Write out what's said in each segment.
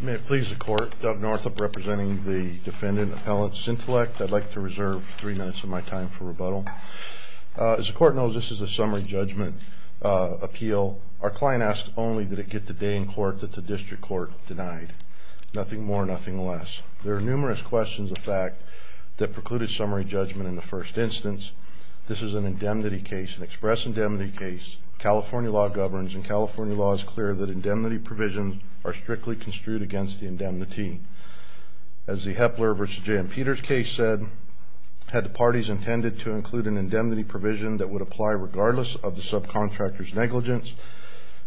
May it please the Court, Doug Northup representing the defendant, Appellant Syntellect. I'd like to reserve three minutes of my time for rebuttal. As the Court knows, this is a summary judgment appeal. Our client asked only did it get the day in court that the district court denied. Nothing more, nothing less. There are numerous questions of fact that precluded summary judgment in the first instance. This is an indemnity case, an express indemnity case. California law governs and California law is clear that indemnity provisions are strictly construed against the indemnity. As the Hepler v. J.M. Peters case said, had the parties intended to include an indemnity provision that would apply regardless of the subcontractor's negligence,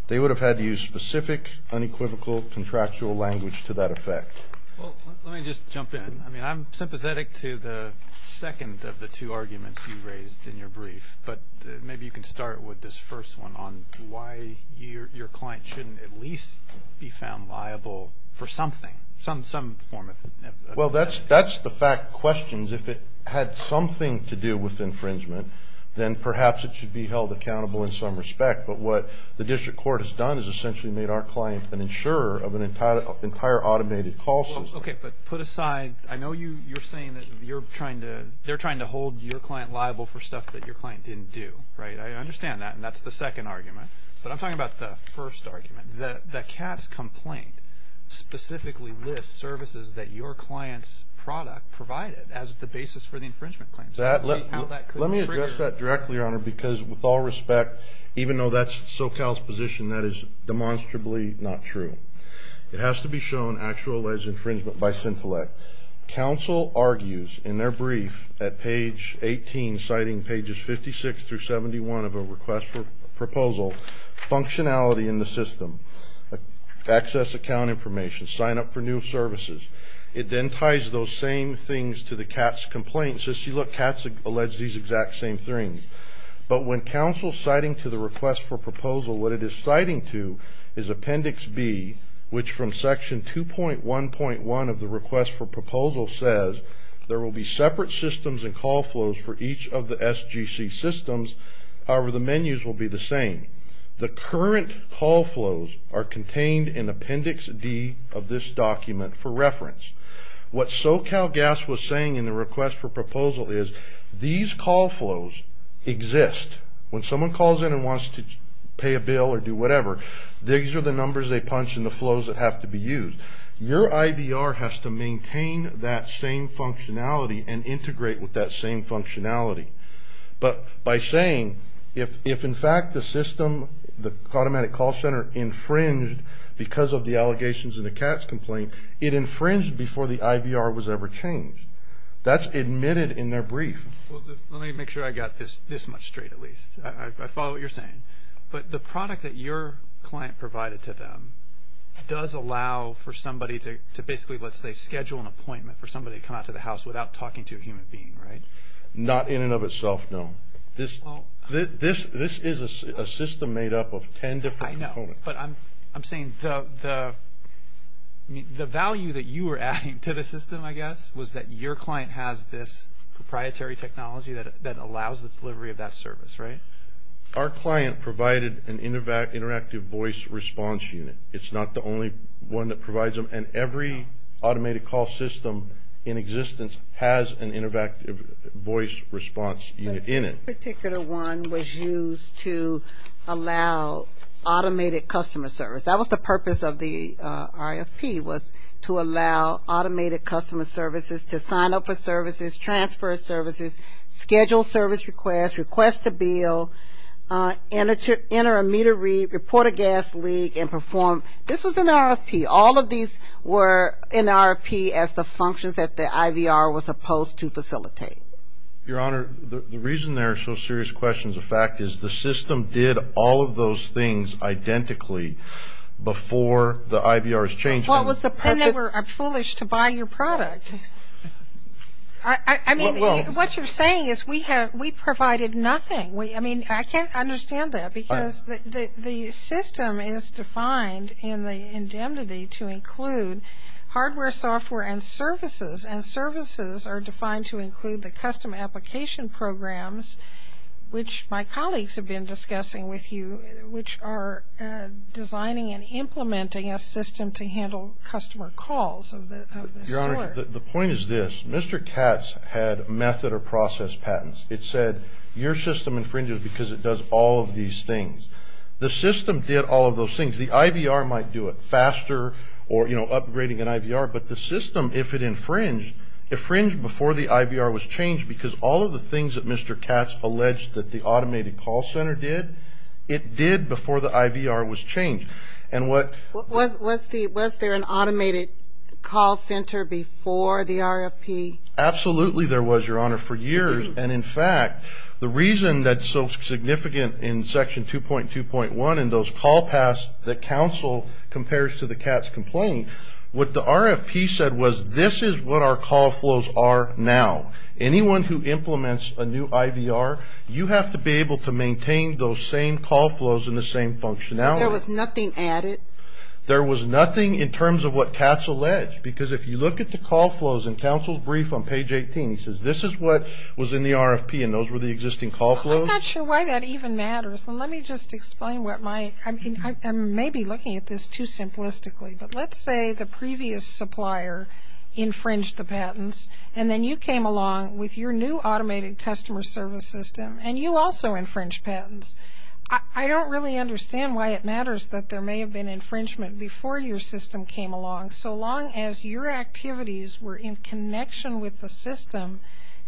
they would have had to use specific, unequivocal, contractual language to that effect. Well, let me just jump in. I mean, I'm sympathetic to the second of the two arguments you raised in your brief, but maybe you can start with this first one on why your client shouldn't at least be found liable for something, some form of ______. Well, that's the fact questions. If it had something to do with infringement, then perhaps it should be held accountable in some respect. But what the district court has done is essentially made our client an insurer of an entire automated call system. Okay, but put aside. I know you're saying that they're trying to hold your client liable for stuff that your client didn't do, right? I understand that, and that's the second argument. But I'm talking about the first argument. The Katz complaint specifically lists services that your client's product provided as the basis for the infringement claims. Let me address that directly, Your Honor, because with all respect, even though that's SoCal's position, that is demonstrably not true. It has to be shown actualized infringement by Sintelec. Counsel argues in their brief at page 18, citing pages 56 through 71 of a request for proposal, functionality in the system, access account information, sign up for new services. It then ties those same things to the Katz complaint and says, see, look, Katz alleged these exact same things. But when counsel's citing to the request for proposal, what it is citing to is appendix B, which from section 2.1.1 of the request for proposal says there will be separate systems and call flows for each of the SGC systems. However, the menus will be the same. The current call flows are contained in appendix D of this document for reference. What SoCalGAS was saying in the request for proposal is these call flows exist. When someone calls in and wants to pay a bill or do whatever, these are the numbers they punch and the flows that have to be used. Your IVR has to maintain that same functionality and integrate with that same functionality. But by saying if in fact the system, the automatic call center infringed because of the allegations in the Katz complaint, it infringed before the IVR was ever changed. That's admitted in their brief. Well, just let me make sure I got this much straight at least. I follow what you're saying. But the product that your client provided to them does allow for somebody to basically, let's say, schedule an appointment for somebody to come out to the house without talking to a human being, right? Not in and of itself, no. This is a system made up of ten different components. I know, but I'm saying the value that you were adding to the system, I guess, was that your client has this proprietary technology that allows the delivery of that service, right? Our client provided an interactive voice response unit. It's not the only one that provides them. And every automated call system in existence has an interactive voice response unit in it. But this particular one was used to allow automated customer service. That was the purpose of the RFP was to allow automated customer services to sign up for services, transfer services, schedule service requests, request a bill, enter a meter read, report a gas leak, and perform. This was an RFP. All of these were in the RFP as the functions that the IVR was supposed to facilitate. Your Honor, the reason there are so serious questions of fact is the system did all of those things identically before the IVR was changed. Then they were foolish to buy your product. I mean, what you're saying is we provided nothing. I mean, I can't understand that because the system is defined in the indemnity to include hardware, software, and services, and services are defined to include the custom application programs, which my colleagues have been discussing with you, which are designing and implementing a system to handle customer calls of this sort. Your Honor, the point is this. Mr. Katz had method or process patents. It said your system infringes because it does all of these things. The system did all of those things. The IVR might do it faster or, you know, upgrading an IVR, but the system, if it infringed, infringed before the IVR was changed because all of the things that Mr. Katz alleged that the automated call center did, it did before the IVR was changed. Was there an automated call center before the RFP? Absolutely there was, Your Honor, for years. And, in fact, the reason that's so significant in Section 2.2.1 and those call paths that counsel compares to the Katz complaint, what the RFP said was this is what our call flows are now. Anyone who implements a new IVR, you have to be able to maintain those same call flows and the same functionality. So there was nothing added? There was nothing in terms of what Katz alleged because if you look at the call flows in counsel's brief on page 18, he says this is what was in the RFP and those were the existing call flows? I'm not sure why that even matters. And let me just explain what my – I may be looking at this too simplistically, but let's say the previous supplier infringed the patents and then you came along with your new automated customer service system and you also infringed patents. I don't really understand why it matters that there may have been infringement before your system came along. So long as your activities were in connection with the system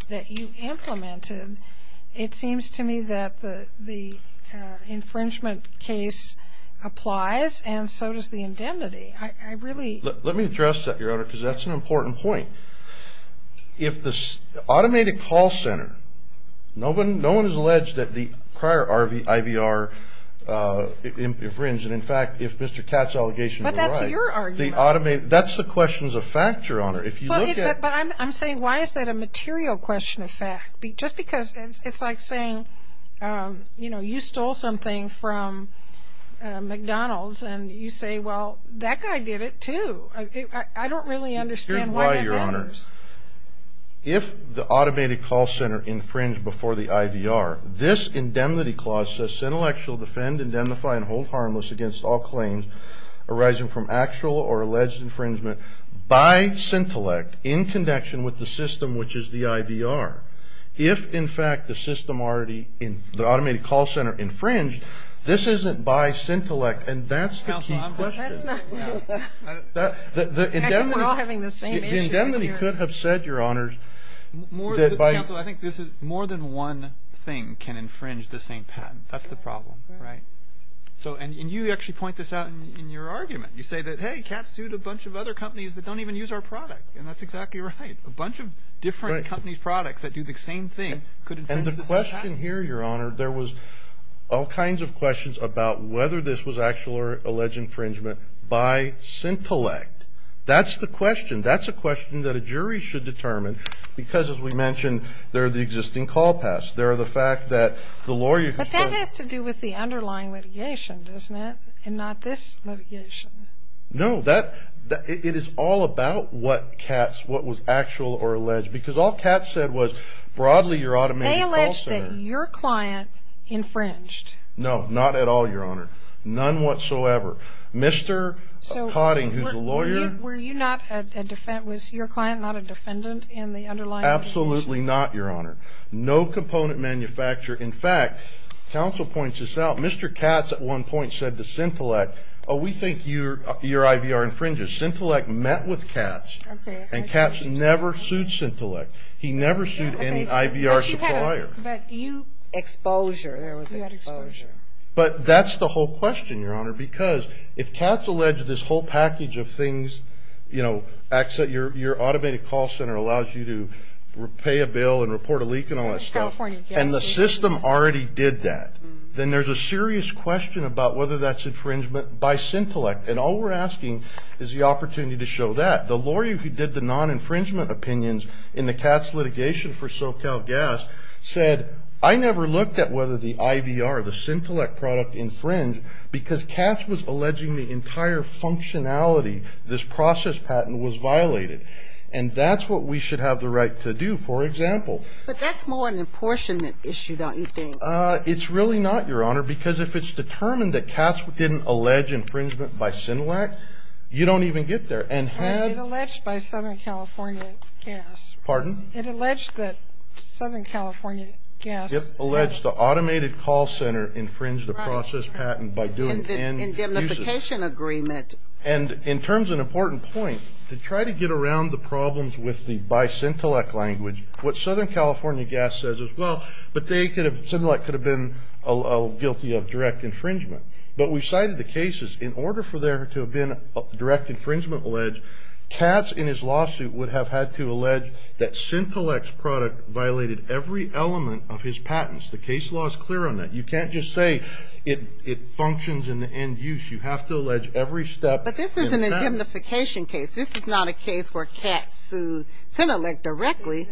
that you implemented, it seems to me that the infringement case applies and so does the indemnity. I really – Let me address that, Your Honor, because that's an important point. If the automated call center – no one has alleged that the prior IVR infringed, and in fact, if Mr. Katz's allegation is right, the automated – that's the questions of fact, Your Honor. If you look at – But I'm saying why is that a material question of fact? Just because it's like saying, you know, you stole something from McDonald's and you say, well, that guy did it too. I don't really understand why that matters. Here's why, Your Honor. If the automated call center infringed before the IVR, this indemnity clause says, intellectual defend, indemnify, and hold harmless against all claims arising from actual or alleged infringement by Syntellect in connection with the system which is the IVR. If, in fact, the system already – the automated call center infringed, this isn't by Syntellect. And that's the key question. That's not – no. I think we're all having the same issue here. Indemnity could have said, Your Honors, that by – Counsel, I think this is – more than one thing can infringe the same patent. That's the problem, right? And you actually point this out in your argument. You say that, hey, Kat sued a bunch of other companies that don't even use our product. And that's exactly right. A bunch of different companies' products that do the same thing could infringe the same patent. And the question here, Your Honor, there was all kinds of questions about whether this was actual or alleged infringement by Syntellect. That's the question. That's a question that a jury should determine because, as we mentioned, there are the existing call pass. There are the fact that the lawyer – But that has to do with the underlying litigation, doesn't it? And not this litigation. No, that – it is all about what Kat's – what was actual or alleged. Because all Kat said was, broadly, your automated call center – They alleged that your client infringed. No, not at all, Your Honor. None whatsoever. Mr. Cotting, who's a lawyer – So were you not a – was your client not a defendant in the underlying litigation? Absolutely not, Your Honor. No component manufacture. In fact, counsel points this out. Mr. Katz, at one point, said to Syntellect, oh, we think your IVR infringes. Syntellect met with Katz, and Katz never sued Syntellect. He never sued any IVR supplier. But you – exposure. There was exposure. But that's the whole question, Your Honor. Because if Katz alleged this whole package of things, you know, And the system already did that. Then there's a serious question about whether that's infringement by Syntellect. And all we're asking is the opportunity to show that. The lawyer who did the non-infringement opinions in the Katz litigation for SoCalGas said, I never looked at whether the IVR, the Syntellect product, infringed because Katz was alleging the entire functionality, this process patent, was violated. And that's what we should have the right to do, for example. But that's more an apportionment issue, don't you think? It's really not, Your Honor. Because if it's determined that Katz didn't allege infringement by Syntellect, you don't even get there. And it alleged by Southern California Gas. Pardon? It alleged that Southern California Gas. It alleged the automated call center infringed the process patent by doing end uses. And the indemnification agreement. And in terms of an important point, to try to get around the problems with the by Syntellect language, what Southern California Gas says as well, but Syntellect could have been guilty of direct infringement. But we've cited the cases. In order for there to have been a direct infringement alleged, Katz in his lawsuit would have had to allege that Syntellect's product violated every element of his patents. The case law is clear on that. You can't just say it functions in the end use. You have to allege every step in the patent. But this is an indemnification case. This is not a case where Katz sued Syntellect directly.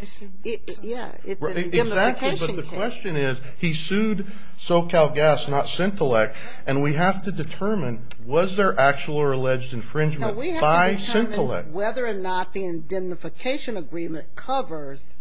Yeah, it's an indemnification case. Exactly. But the question is, he sued SoCal Gas, not Syntellect, and we have to determine was there actual or alleged infringement by Syntellect. And we have to determine whether or not the indemnification agreement covers.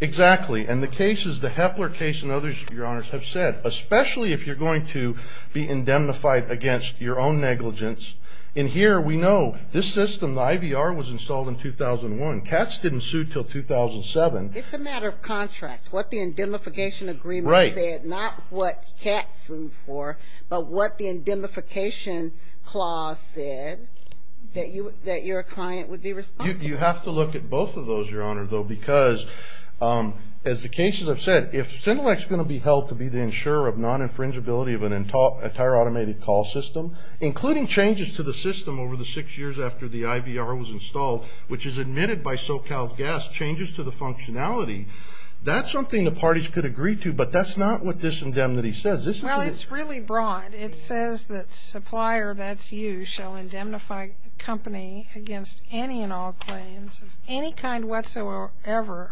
Exactly. And the cases, the Hepler case and others, Your Honors, have said, especially if you're going to be indemnified against your own negligence, in here we know this system, the IVR, was installed in 2001. Katz didn't sue until 2007. It's a matter of contract. What the indemnification agreement said, not what Katz sued for, but what the indemnification clause said, that your client would be responsible. You have to look at both of those, Your Honor, though, because as the cases have said, if Syntellect's going to be held to be the insurer of non-infringibility of an entire automated call system, including changes to the system over the six years after the IVR was installed, which is admitted by SoCal's guess, changes to the functionality, that's something the parties could agree to, but that's not what this indemnity says. Well, it's really broad. It says that supplier, that's you, shall indemnify company against any and all claims of any kind whatsoever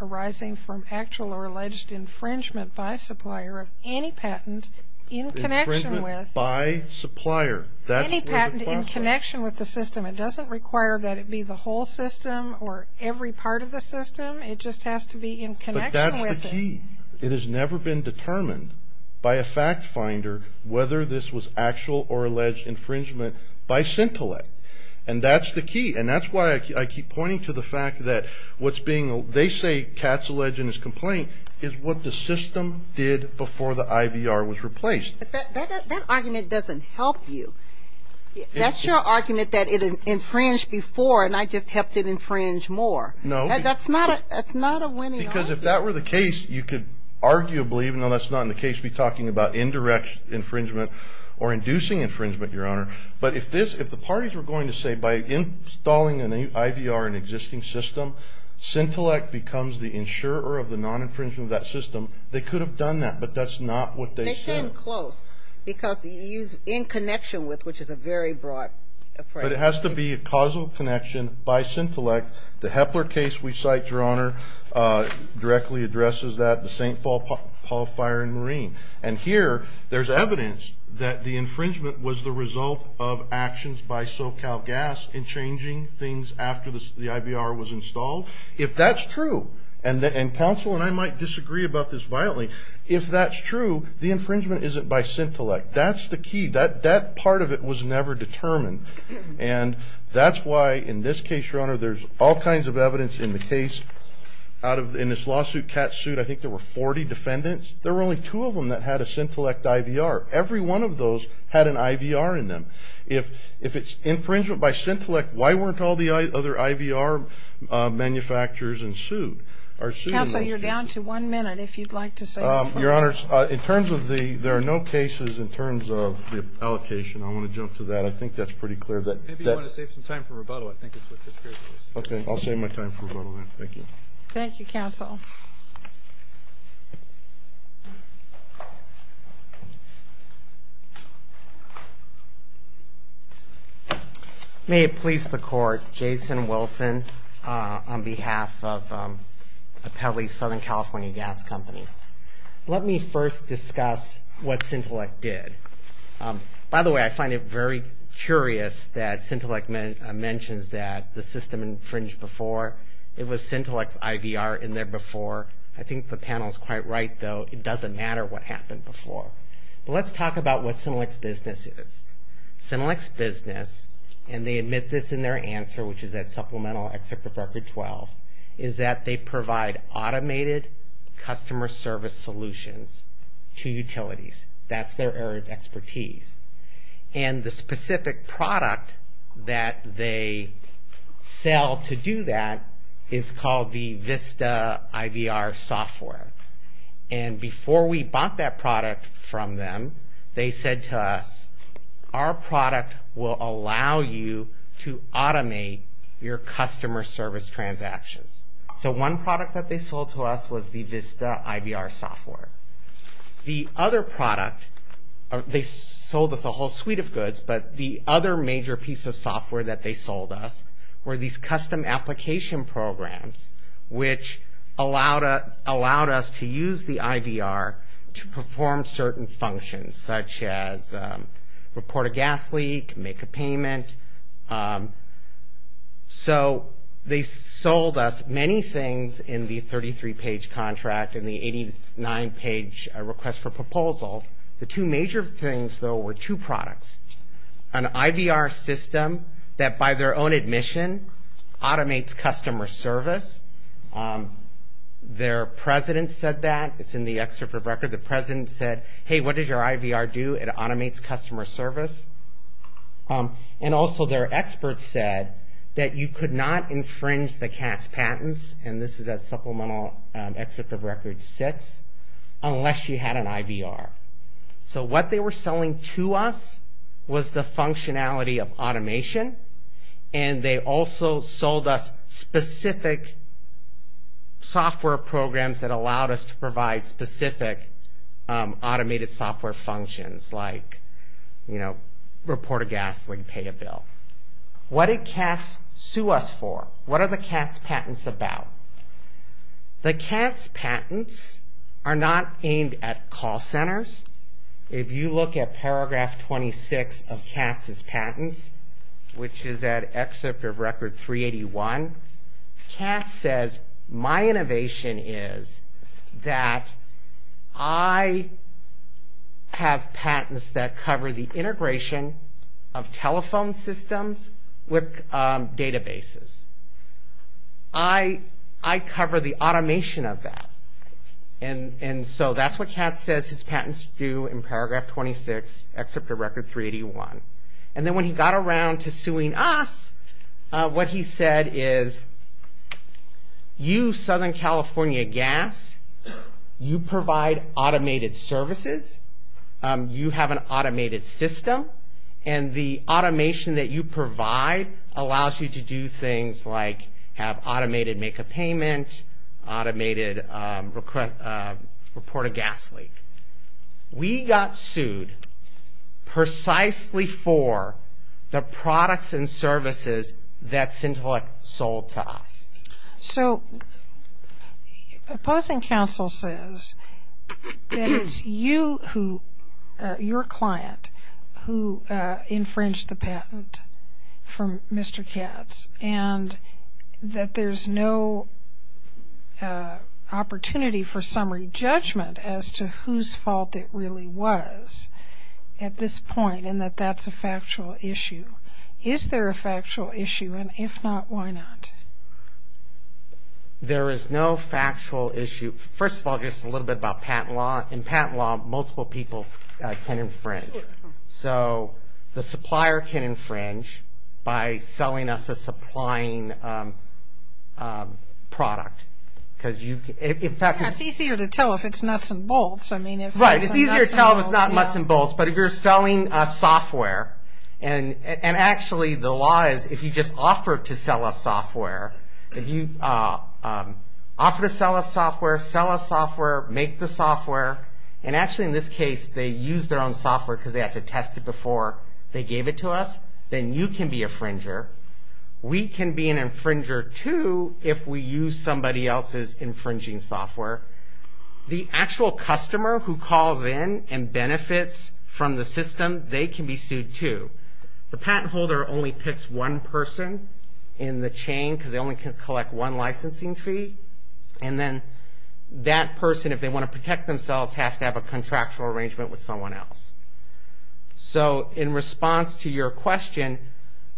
arising from actual or alleged infringement by supplier of any patent in connection with. Infringement by supplier. Any patent in connection with the system. It doesn't require that it be the whole system or every part of the system. It just has to be in connection with it. But that's the key. It has never been determined by a fact finder whether this was actual or alleged infringement by Syntellect. And that's the key. And that's why I keep pointing to the fact that what's being, they say Katz alleged in his complaint is what the system did before the IVR was replaced. But that argument doesn't help you. That's your argument that it infringed before and I just helped it infringe more. No. That's not a winning argument. Because if that were the case, you could arguably, even though that's not in the case to be talking about indirect infringement or inducing infringement, Your Honor, but if the parties were going to say by installing an IVR in an existing system, Syntellect becomes the insurer of the non-infringement of that system, they could have done that, but that's not what they said. Because you use in connection with, which is a very broad phrase. But it has to be a causal connection by Syntellect. The Hepler case we cite, Your Honor, directly addresses that. The St. Paul Fire and Marine. And here there's evidence that the infringement was the result of actions by SoCal Gas in changing things after the IVR was installed. If that's true, and counsel and I might disagree about this violently, if that's true, the infringement isn't by Syntellect. That's the key. That part of it was never determined. And that's why in this case, Your Honor, there's all kinds of evidence in the case. In this lawsuit, CAT sued, I think there were 40 defendants. There were only two of them that had a Syntellect IVR. Every one of those had an IVR in them. If it's infringement by Syntellect, why weren't all the other IVR manufacturers sued? Counsel, you're down to one minute if you'd like to say more. Your Honor, in terms of the no cases, in terms of the allocation, I want to jump to that. I think that's pretty clear. Maybe you want to save some time for rebuttal. I think it's a good period. Okay. I'll save my time for rebuttal then. Thank you. Thank you, counsel. May it please the court, Jason Wilson on behalf of Apelli Southern California Gas Company. Let me first discuss what Syntellect did. By the way, I find it very curious that Syntellect mentions that the system infringed before. It was Syntellect's IVR in there before. I think the panel is quite right, though. It doesn't matter what happened before. Let's talk about what Syntellect's business is. Syntellect's business, and they admit this in their answer, which is that supplemental excerpt of Record 12, is that they provide automated customer service solutions to utilities. That's their area of expertise. The specific product that they sell to do that is called the Vista IVR software. Before we bought that product from them, they said to us, our product will allow you to automate your customer service transactions. One product that they sold to us was the Vista IVR software. The other product, they sold us a whole suite of goods, but the other major piece of software that they sold us were these custom application programs, which allowed us to use the IVR to perform certain functions, such as report a gas leak, make a payment. So they sold us many things in the 33-page contract and the 89-page request for proposal. The two major things, though, were two products, an IVR system that, by their own admission, automates customer service. Their president said that. It's in the excerpt of Record. The president said, hey, what does your IVR do? It automates customer service. And also their experts said that you could not infringe the CAS patents, and this is at supplemental excerpt of Record 6, unless you had an IVR. So what they were selling to us was the functionality of automation, and they also sold us specific software programs that allowed us to provide specific automated software functions, like report a gas leak, pay a bill. What did CAS sue us for? What are the CAS patents about? The CAS patents are not aimed at call centers. If you look at paragraph 26 of CAS' patents, which is at excerpt of Record 381, CAS says, my innovation is that I have patents that cover the integration of telephone systems with databases. I cover the automation of that. And so that's what CAS says its patents do in paragraph 26, excerpt of Record 381. And then when he got around to suing us, what he said is, you, Southern California Gas, you provide automated services, you have an automated system, and the automation that you provide allows you to do things like have automated make a payment, automated report a gas leak. We got sued precisely for the products and services that Centelec sold to us. So opposing counsel says that it's you, your client, who infringed the patent from Mr. Katz and that there's no opportunity for summary judgment as to whose fault it really was at this point and that that's a factual issue. Is there a factual issue? And if not, why not? There is no factual issue. First of all, just a little bit about patent law. In patent law, multiple people can infringe. So the supplier can infringe by selling us a supplying product. It's easier to tell if it's nuts and bolts. Right, it's easier to tell if it's not nuts and bolts. But if you're selling us software, and actually the law is if you just offer to sell us software, if you offer to sell us software, sell us software, make the software, and actually in this case they used their own software because they had to test it before they gave it to us, then you can be a infringer. We can be an infringer too if we use somebody else's infringing software. The actual customer who calls in and benefits from the system, they can be sued too. The patent holder only picks one person in the chain because they only can collect one licensing fee. And then that person, if they want to protect themselves, has to have a contractual arrangement with someone else. So in response to your question,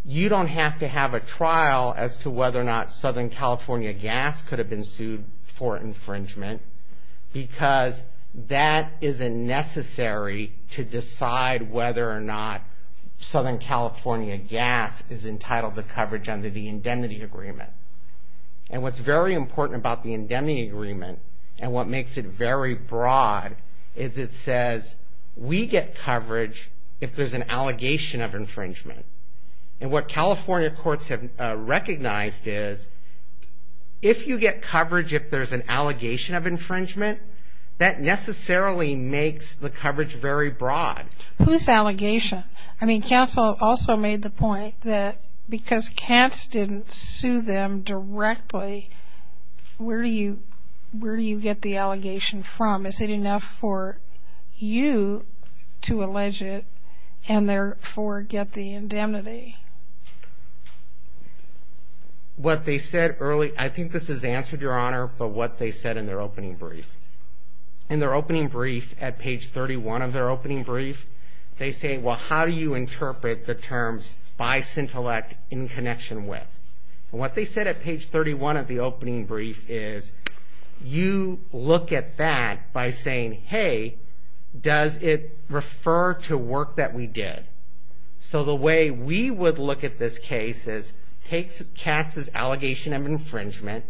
you don't have to have a trial as to whether or not Southern California Gas could have been sued for infringement because that isn't necessary to decide whether or not Southern California Gas is entitled to coverage under the indemnity agreement. And what's very important about the indemnity agreement and what makes it very broad is it says, we get coverage if there's an allegation of infringement. And what California courts have recognized is if you get coverage if there's an allegation of infringement, that necessarily makes the coverage very broad. Whose allegation? I mean, counsel also made the point that because CATS didn't sue them directly, where do you get the allegation from? Is it enough for you to allege it and therefore get the indemnity? What they said early, I think this is answered, Your Honor, but what they said in their opening brief. In their opening brief, at page 31 of their opening brief, they say, well, how do you interpret the terms by Cintellect in connection with? And what they said at page 31 of the opening brief is you look at that by saying, hey, does it refer to work that we did? So the way we would look at this case is take CATS' allegation of infringement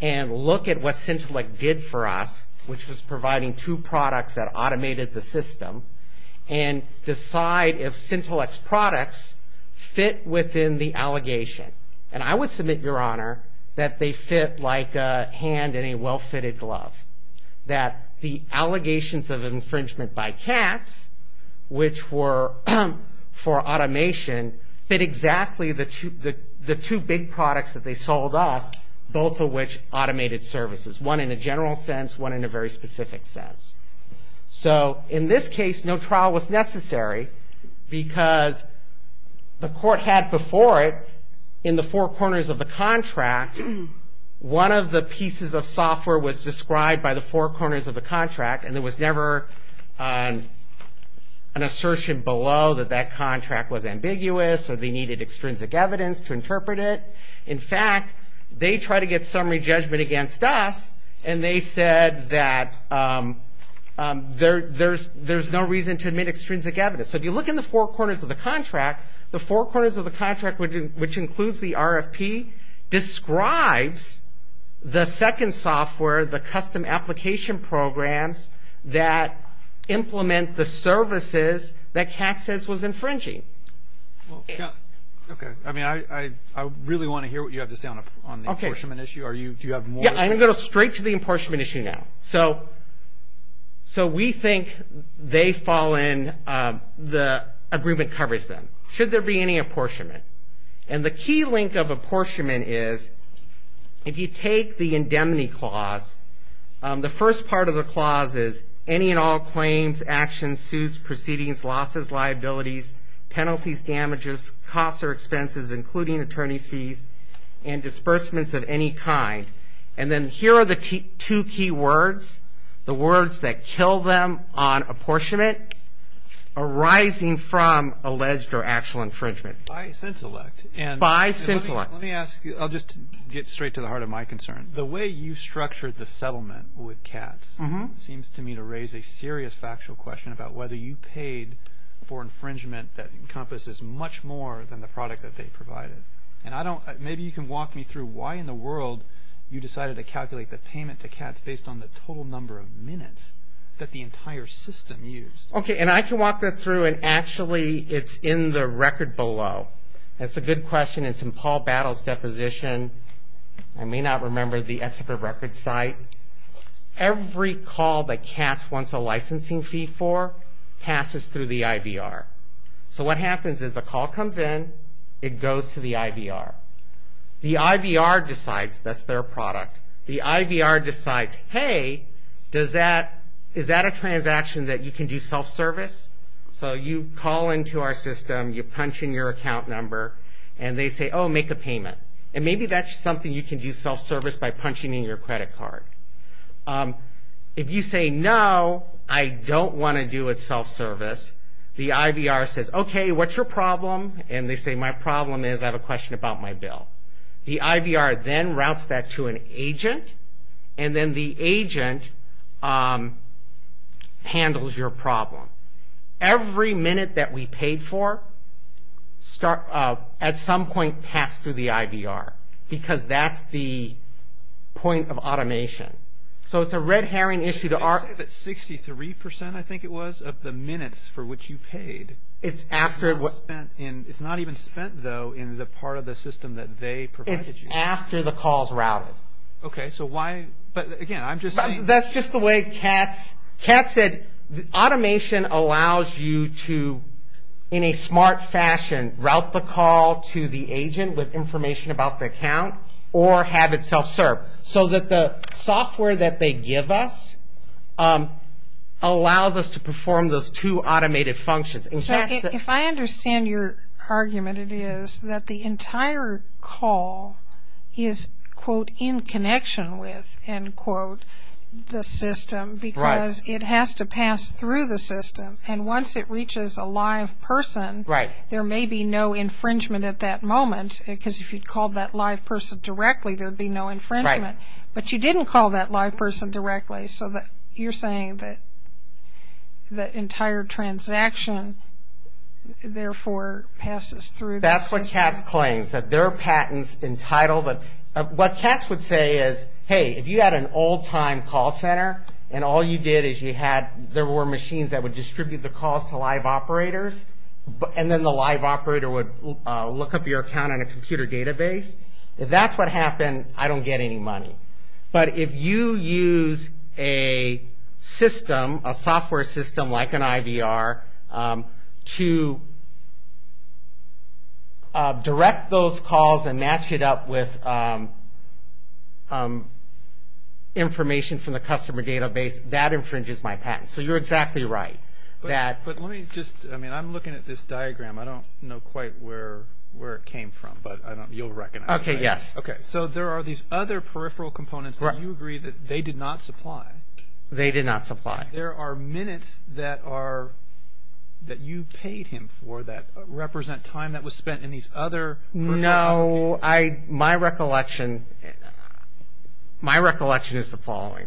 and look at what Cintellect did for us, which was providing two products that automated the system, and decide if Cintellect's products fit within the allegation. And I would submit, Your Honor, that they fit like a hand in a well-fitted glove. That the allegations of infringement by CATS, which were for automation, fit exactly the two big products that they sold us, both of which automated services. One in a general sense, one in a very specific sense. So in this case, no trial was necessary because the court had before it, in the four corners of the contract, one of the pieces of software was described by the four corners of the contract, and there was never an assertion below that that contract was ambiguous or they needed extrinsic evidence to interpret it. In fact, they tried to get summary judgment against us, and they said that there's no reason to admit extrinsic evidence. So if you look in the four corners of the contract, the four corners of the contract, which includes the RFP, describes the second software, the custom application programs that implement the services that CATS says was infringing. Okay, I mean, I really want to hear what you have to say on the apportionment issue. Yeah, I'm going to go straight to the apportionment issue now. So we think they fall in, the agreement covers them. Should there be any apportionment? And the key link of apportionment is, if you take the indemnity clause, the first part of the clause is, any and all claims, actions, suits, proceedings, losses, liabilities, penalties, damages, costs or expenses, including attorney's fees, and disbursements of any kind. And then here are the two key words, the words that kill them on apportionment, arising from alleged or actual infringement. By scintillate. By scintillate. Let me ask you, I'll just get straight to the heart of my concern. The way you structured the settlement with CATS seems to me to raise a serious factual question about whether you paid for infringement that encompasses much more than the product that they provided. And maybe you can walk me through why in the world you decided to calculate the payment to CATS based on the total number of minutes that the entire system used. Okay, and I can walk that through, and actually it's in the record below. That's a good question. It's in Paul Battle's deposition. I may not remember the Excel for Records site. Every call that CATS wants a licensing fee for passes through the IVR. So what happens is a call comes in, it goes to the IVR. The IVR decides that's their product. The IVR decides, hey, is that a transaction that you can do self-service? So you call into our system, you punch in your account number, and they say, oh, make a payment. And maybe that's something you can do self-service by punching in your credit card. If you say, no, I don't want to do it self-service, the IVR says, okay, what's your problem? And they say, my problem is I have a question about my bill. The IVR then routes that to an agent, and then the agent handles your problem. Every minute that we paid for at some point passed through the IVR because that's the point of automation. So it's a red herring issue. You said that 63%, I think it was, of the minutes for which you paid. It's not even spent, though, in the part of the system that they provided you. It's after the call is routed. Okay, so why? But, again, I'm just saying. That's just the way CATS said. Automation allows you to, in a smart fashion, route the call to the agent with information about the account or have it self-serve so that the software that they give us allows us to perform those two automated functions. If I understand your argument, it is that the entire call is, quote, in connection with, end quote, the system because it has to pass through the system. And once it reaches a live person, there may be no infringement at that moment because if you called that live person directly, there would be no infringement. But you didn't call that live person directly, so you're saying that the entire transaction, therefore, passes through the system. That's what CATS claims, that their patent's entitled. What CATS would say is, hey, if you had an old-time call center and all you did is there were machines that would distribute the calls to live operators and then the live operator would look up your account in a computer database, if that's what happened, I don't get any money. But if you use a system, a software system like an IVR, to direct those calls and match it up with information from the customer database, that infringes my patent. So you're exactly right. But let me just, I mean, I'm looking at this diagram. I don't know quite where it came from, but you'll recognize it. Okay, yes. Okay, so there are these other peripheral components that you agree that they did not supply. They did not supply. There are minutes that you paid him for that represent time that was spent in these other. No, my recollection is the following.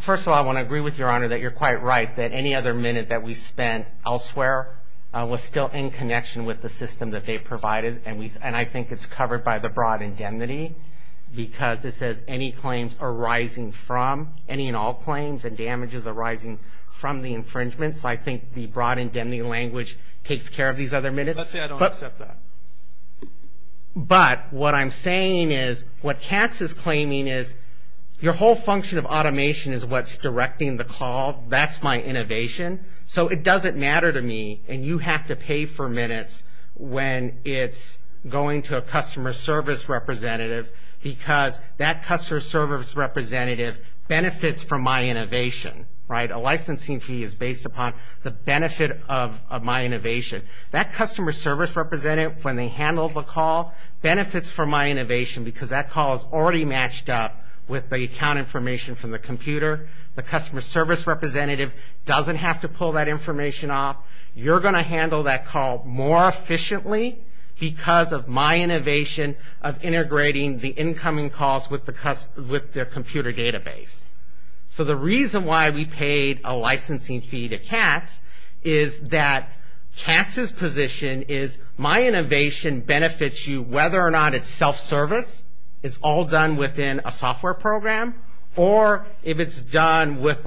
First of all, I want to agree with Your Honor that you're quite right, that any other minute that we spent elsewhere was still in connection with the system that they provided, and I think it's covered by the broad indemnity, because it says any claims arising from, any and all claims, and damages arising from the infringement. So I think the broad indemnity language takes care of these other minutes. Let's say I don't accept that. But what I'm saying is, what Katz is claiming is, your whole function of automation is what's directing the call. That's my innovation. So it doesn't matter to me, and you have to pay for minutes when it's going to a customer service representative, because that customer service representative benefits from my innovation, right? A licensing fee is based upon the benefit of my innovation. That customer service representative, when they handle the call, benefits from my innovation, because that call is already matched up with the account information from the computer. The customer service representative doesn't have to pull that information off. You're going to handle that call more efficiently, because of my innovation of integrating the incoming calls with the computer database. So the reason why we paid a licensing fee to Katz, is that Katz's position is, my innovation benefits you, whether or not it's self-service, it's all done within a software program, or if it's done with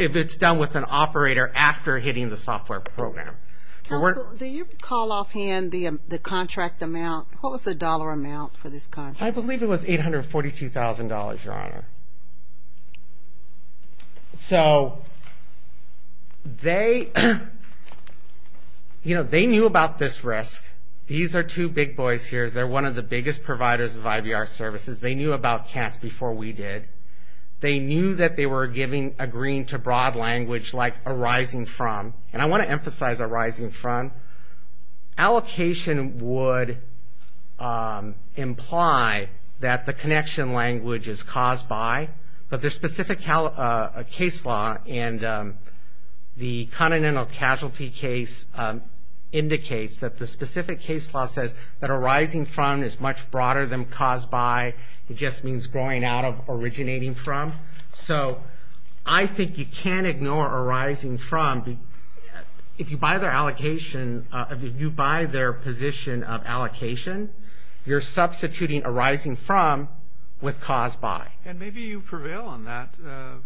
an operator after hitting the software program. Counsel, do you call off hand the contract amount? What was the dollar amount for this contract? I believe it was $842,000, Your Honor. So they knew about this risk. These are two big boys here. They're one of the biggest providers of IVR services. They knew about Katz before we did. They knew that they were agreeing to broad language like arising from, and I want to emphasize arising from. Allocation would imply that the connection language is caused by, but there's specific case law, and the continental casualty case indicates that the specific case law says that arising from is much broader than caused by. It just means growing out of, originating from. So I think you can't ignore arising from. If you buy their allocation, if you buy their position of allocation, you're substituting arising from with caused by. And maybe you prevail on that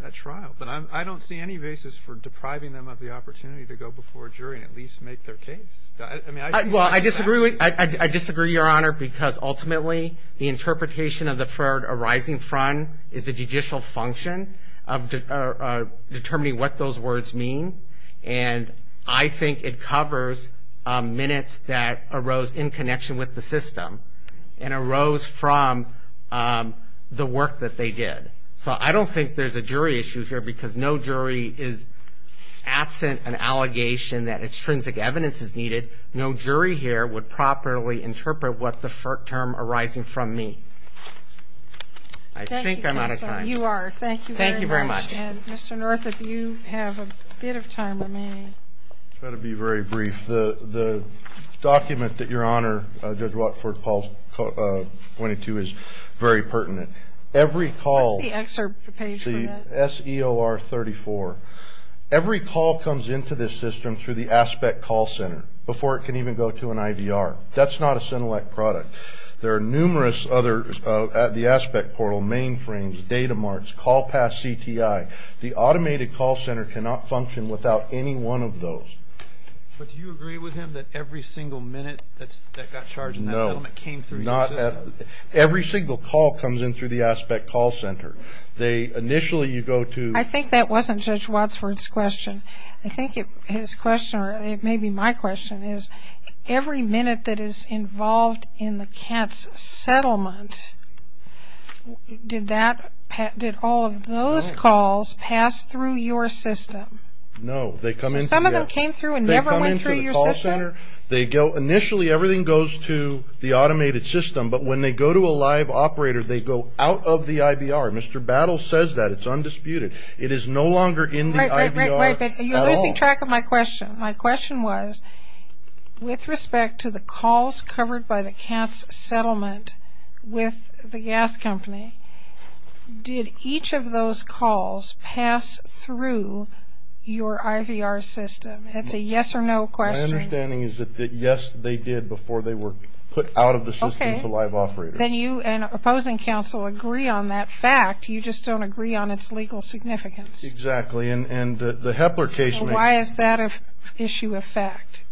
at trial, but I don't see any basis for depriving them of the opportunity to go before a jury and at least make their case. Well, I disagree, Your Honor, because ultimately the interpretation of the word arising from is a judicial function of determining what those words mean, and I think it covers minutes that arose in connection with the system and arose from the work that they did. So I don't think there's a jury issue here because no jury is absent an allegation that extrinsic evidence is needed. No jury here would properly interpret what the term arising from means. I think I'm out of time. Thank you, Counselor. You are. Thank you very much. Thank you very much. And, Mr. North, if you have a bit of time remaining. I'll try to be very brief. The document that Your Honor, Judge Watford, Paul's pointing to is very pertinent. Every call. What's the excerpt page for that? The SEOR 34. Every call comes into this system through the ASPECT call center before it can even go to an IVR. That's not a SENELEC product. There are numerous others at the ASPECT portal, mainframes, data marts, call pass CTI. The automated call center cannot function without any one of those. But do you agree with him that every single minute that got charged in that settlement came through your system? No. Every single call comes in through the ASPECT call center. Initially you go to. I think that wasn't Judge Watford's question. I think his question, or maybe my question, is every minute that is involved in the CATS settlement, did all of those calls pass through your system? No. Some of them came through and never went through your system? Initially everything goes to the automated system. But when they go to a live operator, they go out of the IVR. Mr. Battle says that. It's undisputed. It is no longer in the IVR at all. Wait, wait, wait. You're losing track of my question. My question was with respect to the calls covered by the CATS settlement with the gas company, did each of those calls pass through your IVR system? It's a yes or no question. My understanding is that yes, they did before they were put out of the system to the live operator. Then you and opposing counsel agree on that fact. You just don't agree on its legal significance. Exactly. And the Hepler case. Why is that an issue of fact?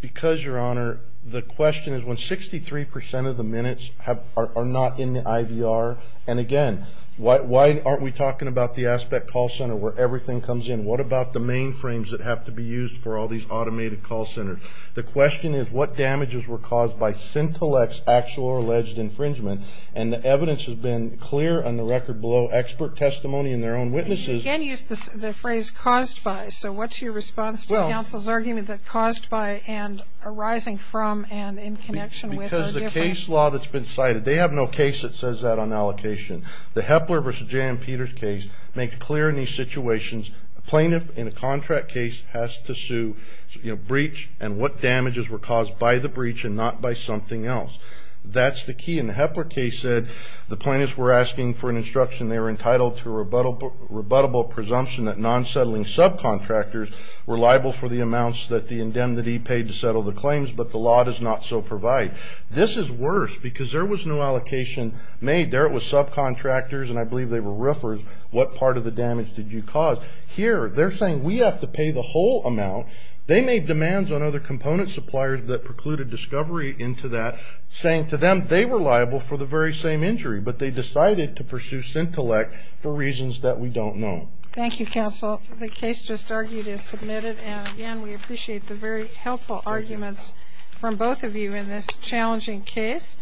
Because, Your Honor, the question is when 63% of the minutes are not in the IVR, and, again, why aren't we talking about the aspect call center where everything comes in? What about the mainframes that have to be used for all these automated call centers? The question is what damages were caused by Sintelec's actual or alleged infringement? And the evidence has been clear on the record below, expert testimony and their own witnesses. You again used the phrase caused by. So what's your response to counsel's argument that caused by and arising from and in connection with are different? Because the case law that's been cited, they have no case that says that on allocation. The Hepler v. J.M. Peters case makes clear in these situations a plaintiff in a contract case has to sue breach and what damages were caused by the breach and not by something else. That's the key. And the Hepler case said the plaintiffs were asking for an instruction. They were entitled to a rebuttable presumption that non-settling subcontractors were liable for the amounts that the indemnity paid to settle the claims, but the law does not so provide. This is worse because there was no allocation made. There it was subcontractors, and I believe they were roofers, what part of the damage did you cause? Here they're saying we have to pay the whole amount. They made demands on other component suppliers that precluded discovery into that, saying to them they were liable for the very same injury, but they decided to pursue Sintelec for reasons that we don't know. Thank you, counsel. The case just argued is submitted, and again, we appreciate the very helpful arguments from both of you in this challenging case.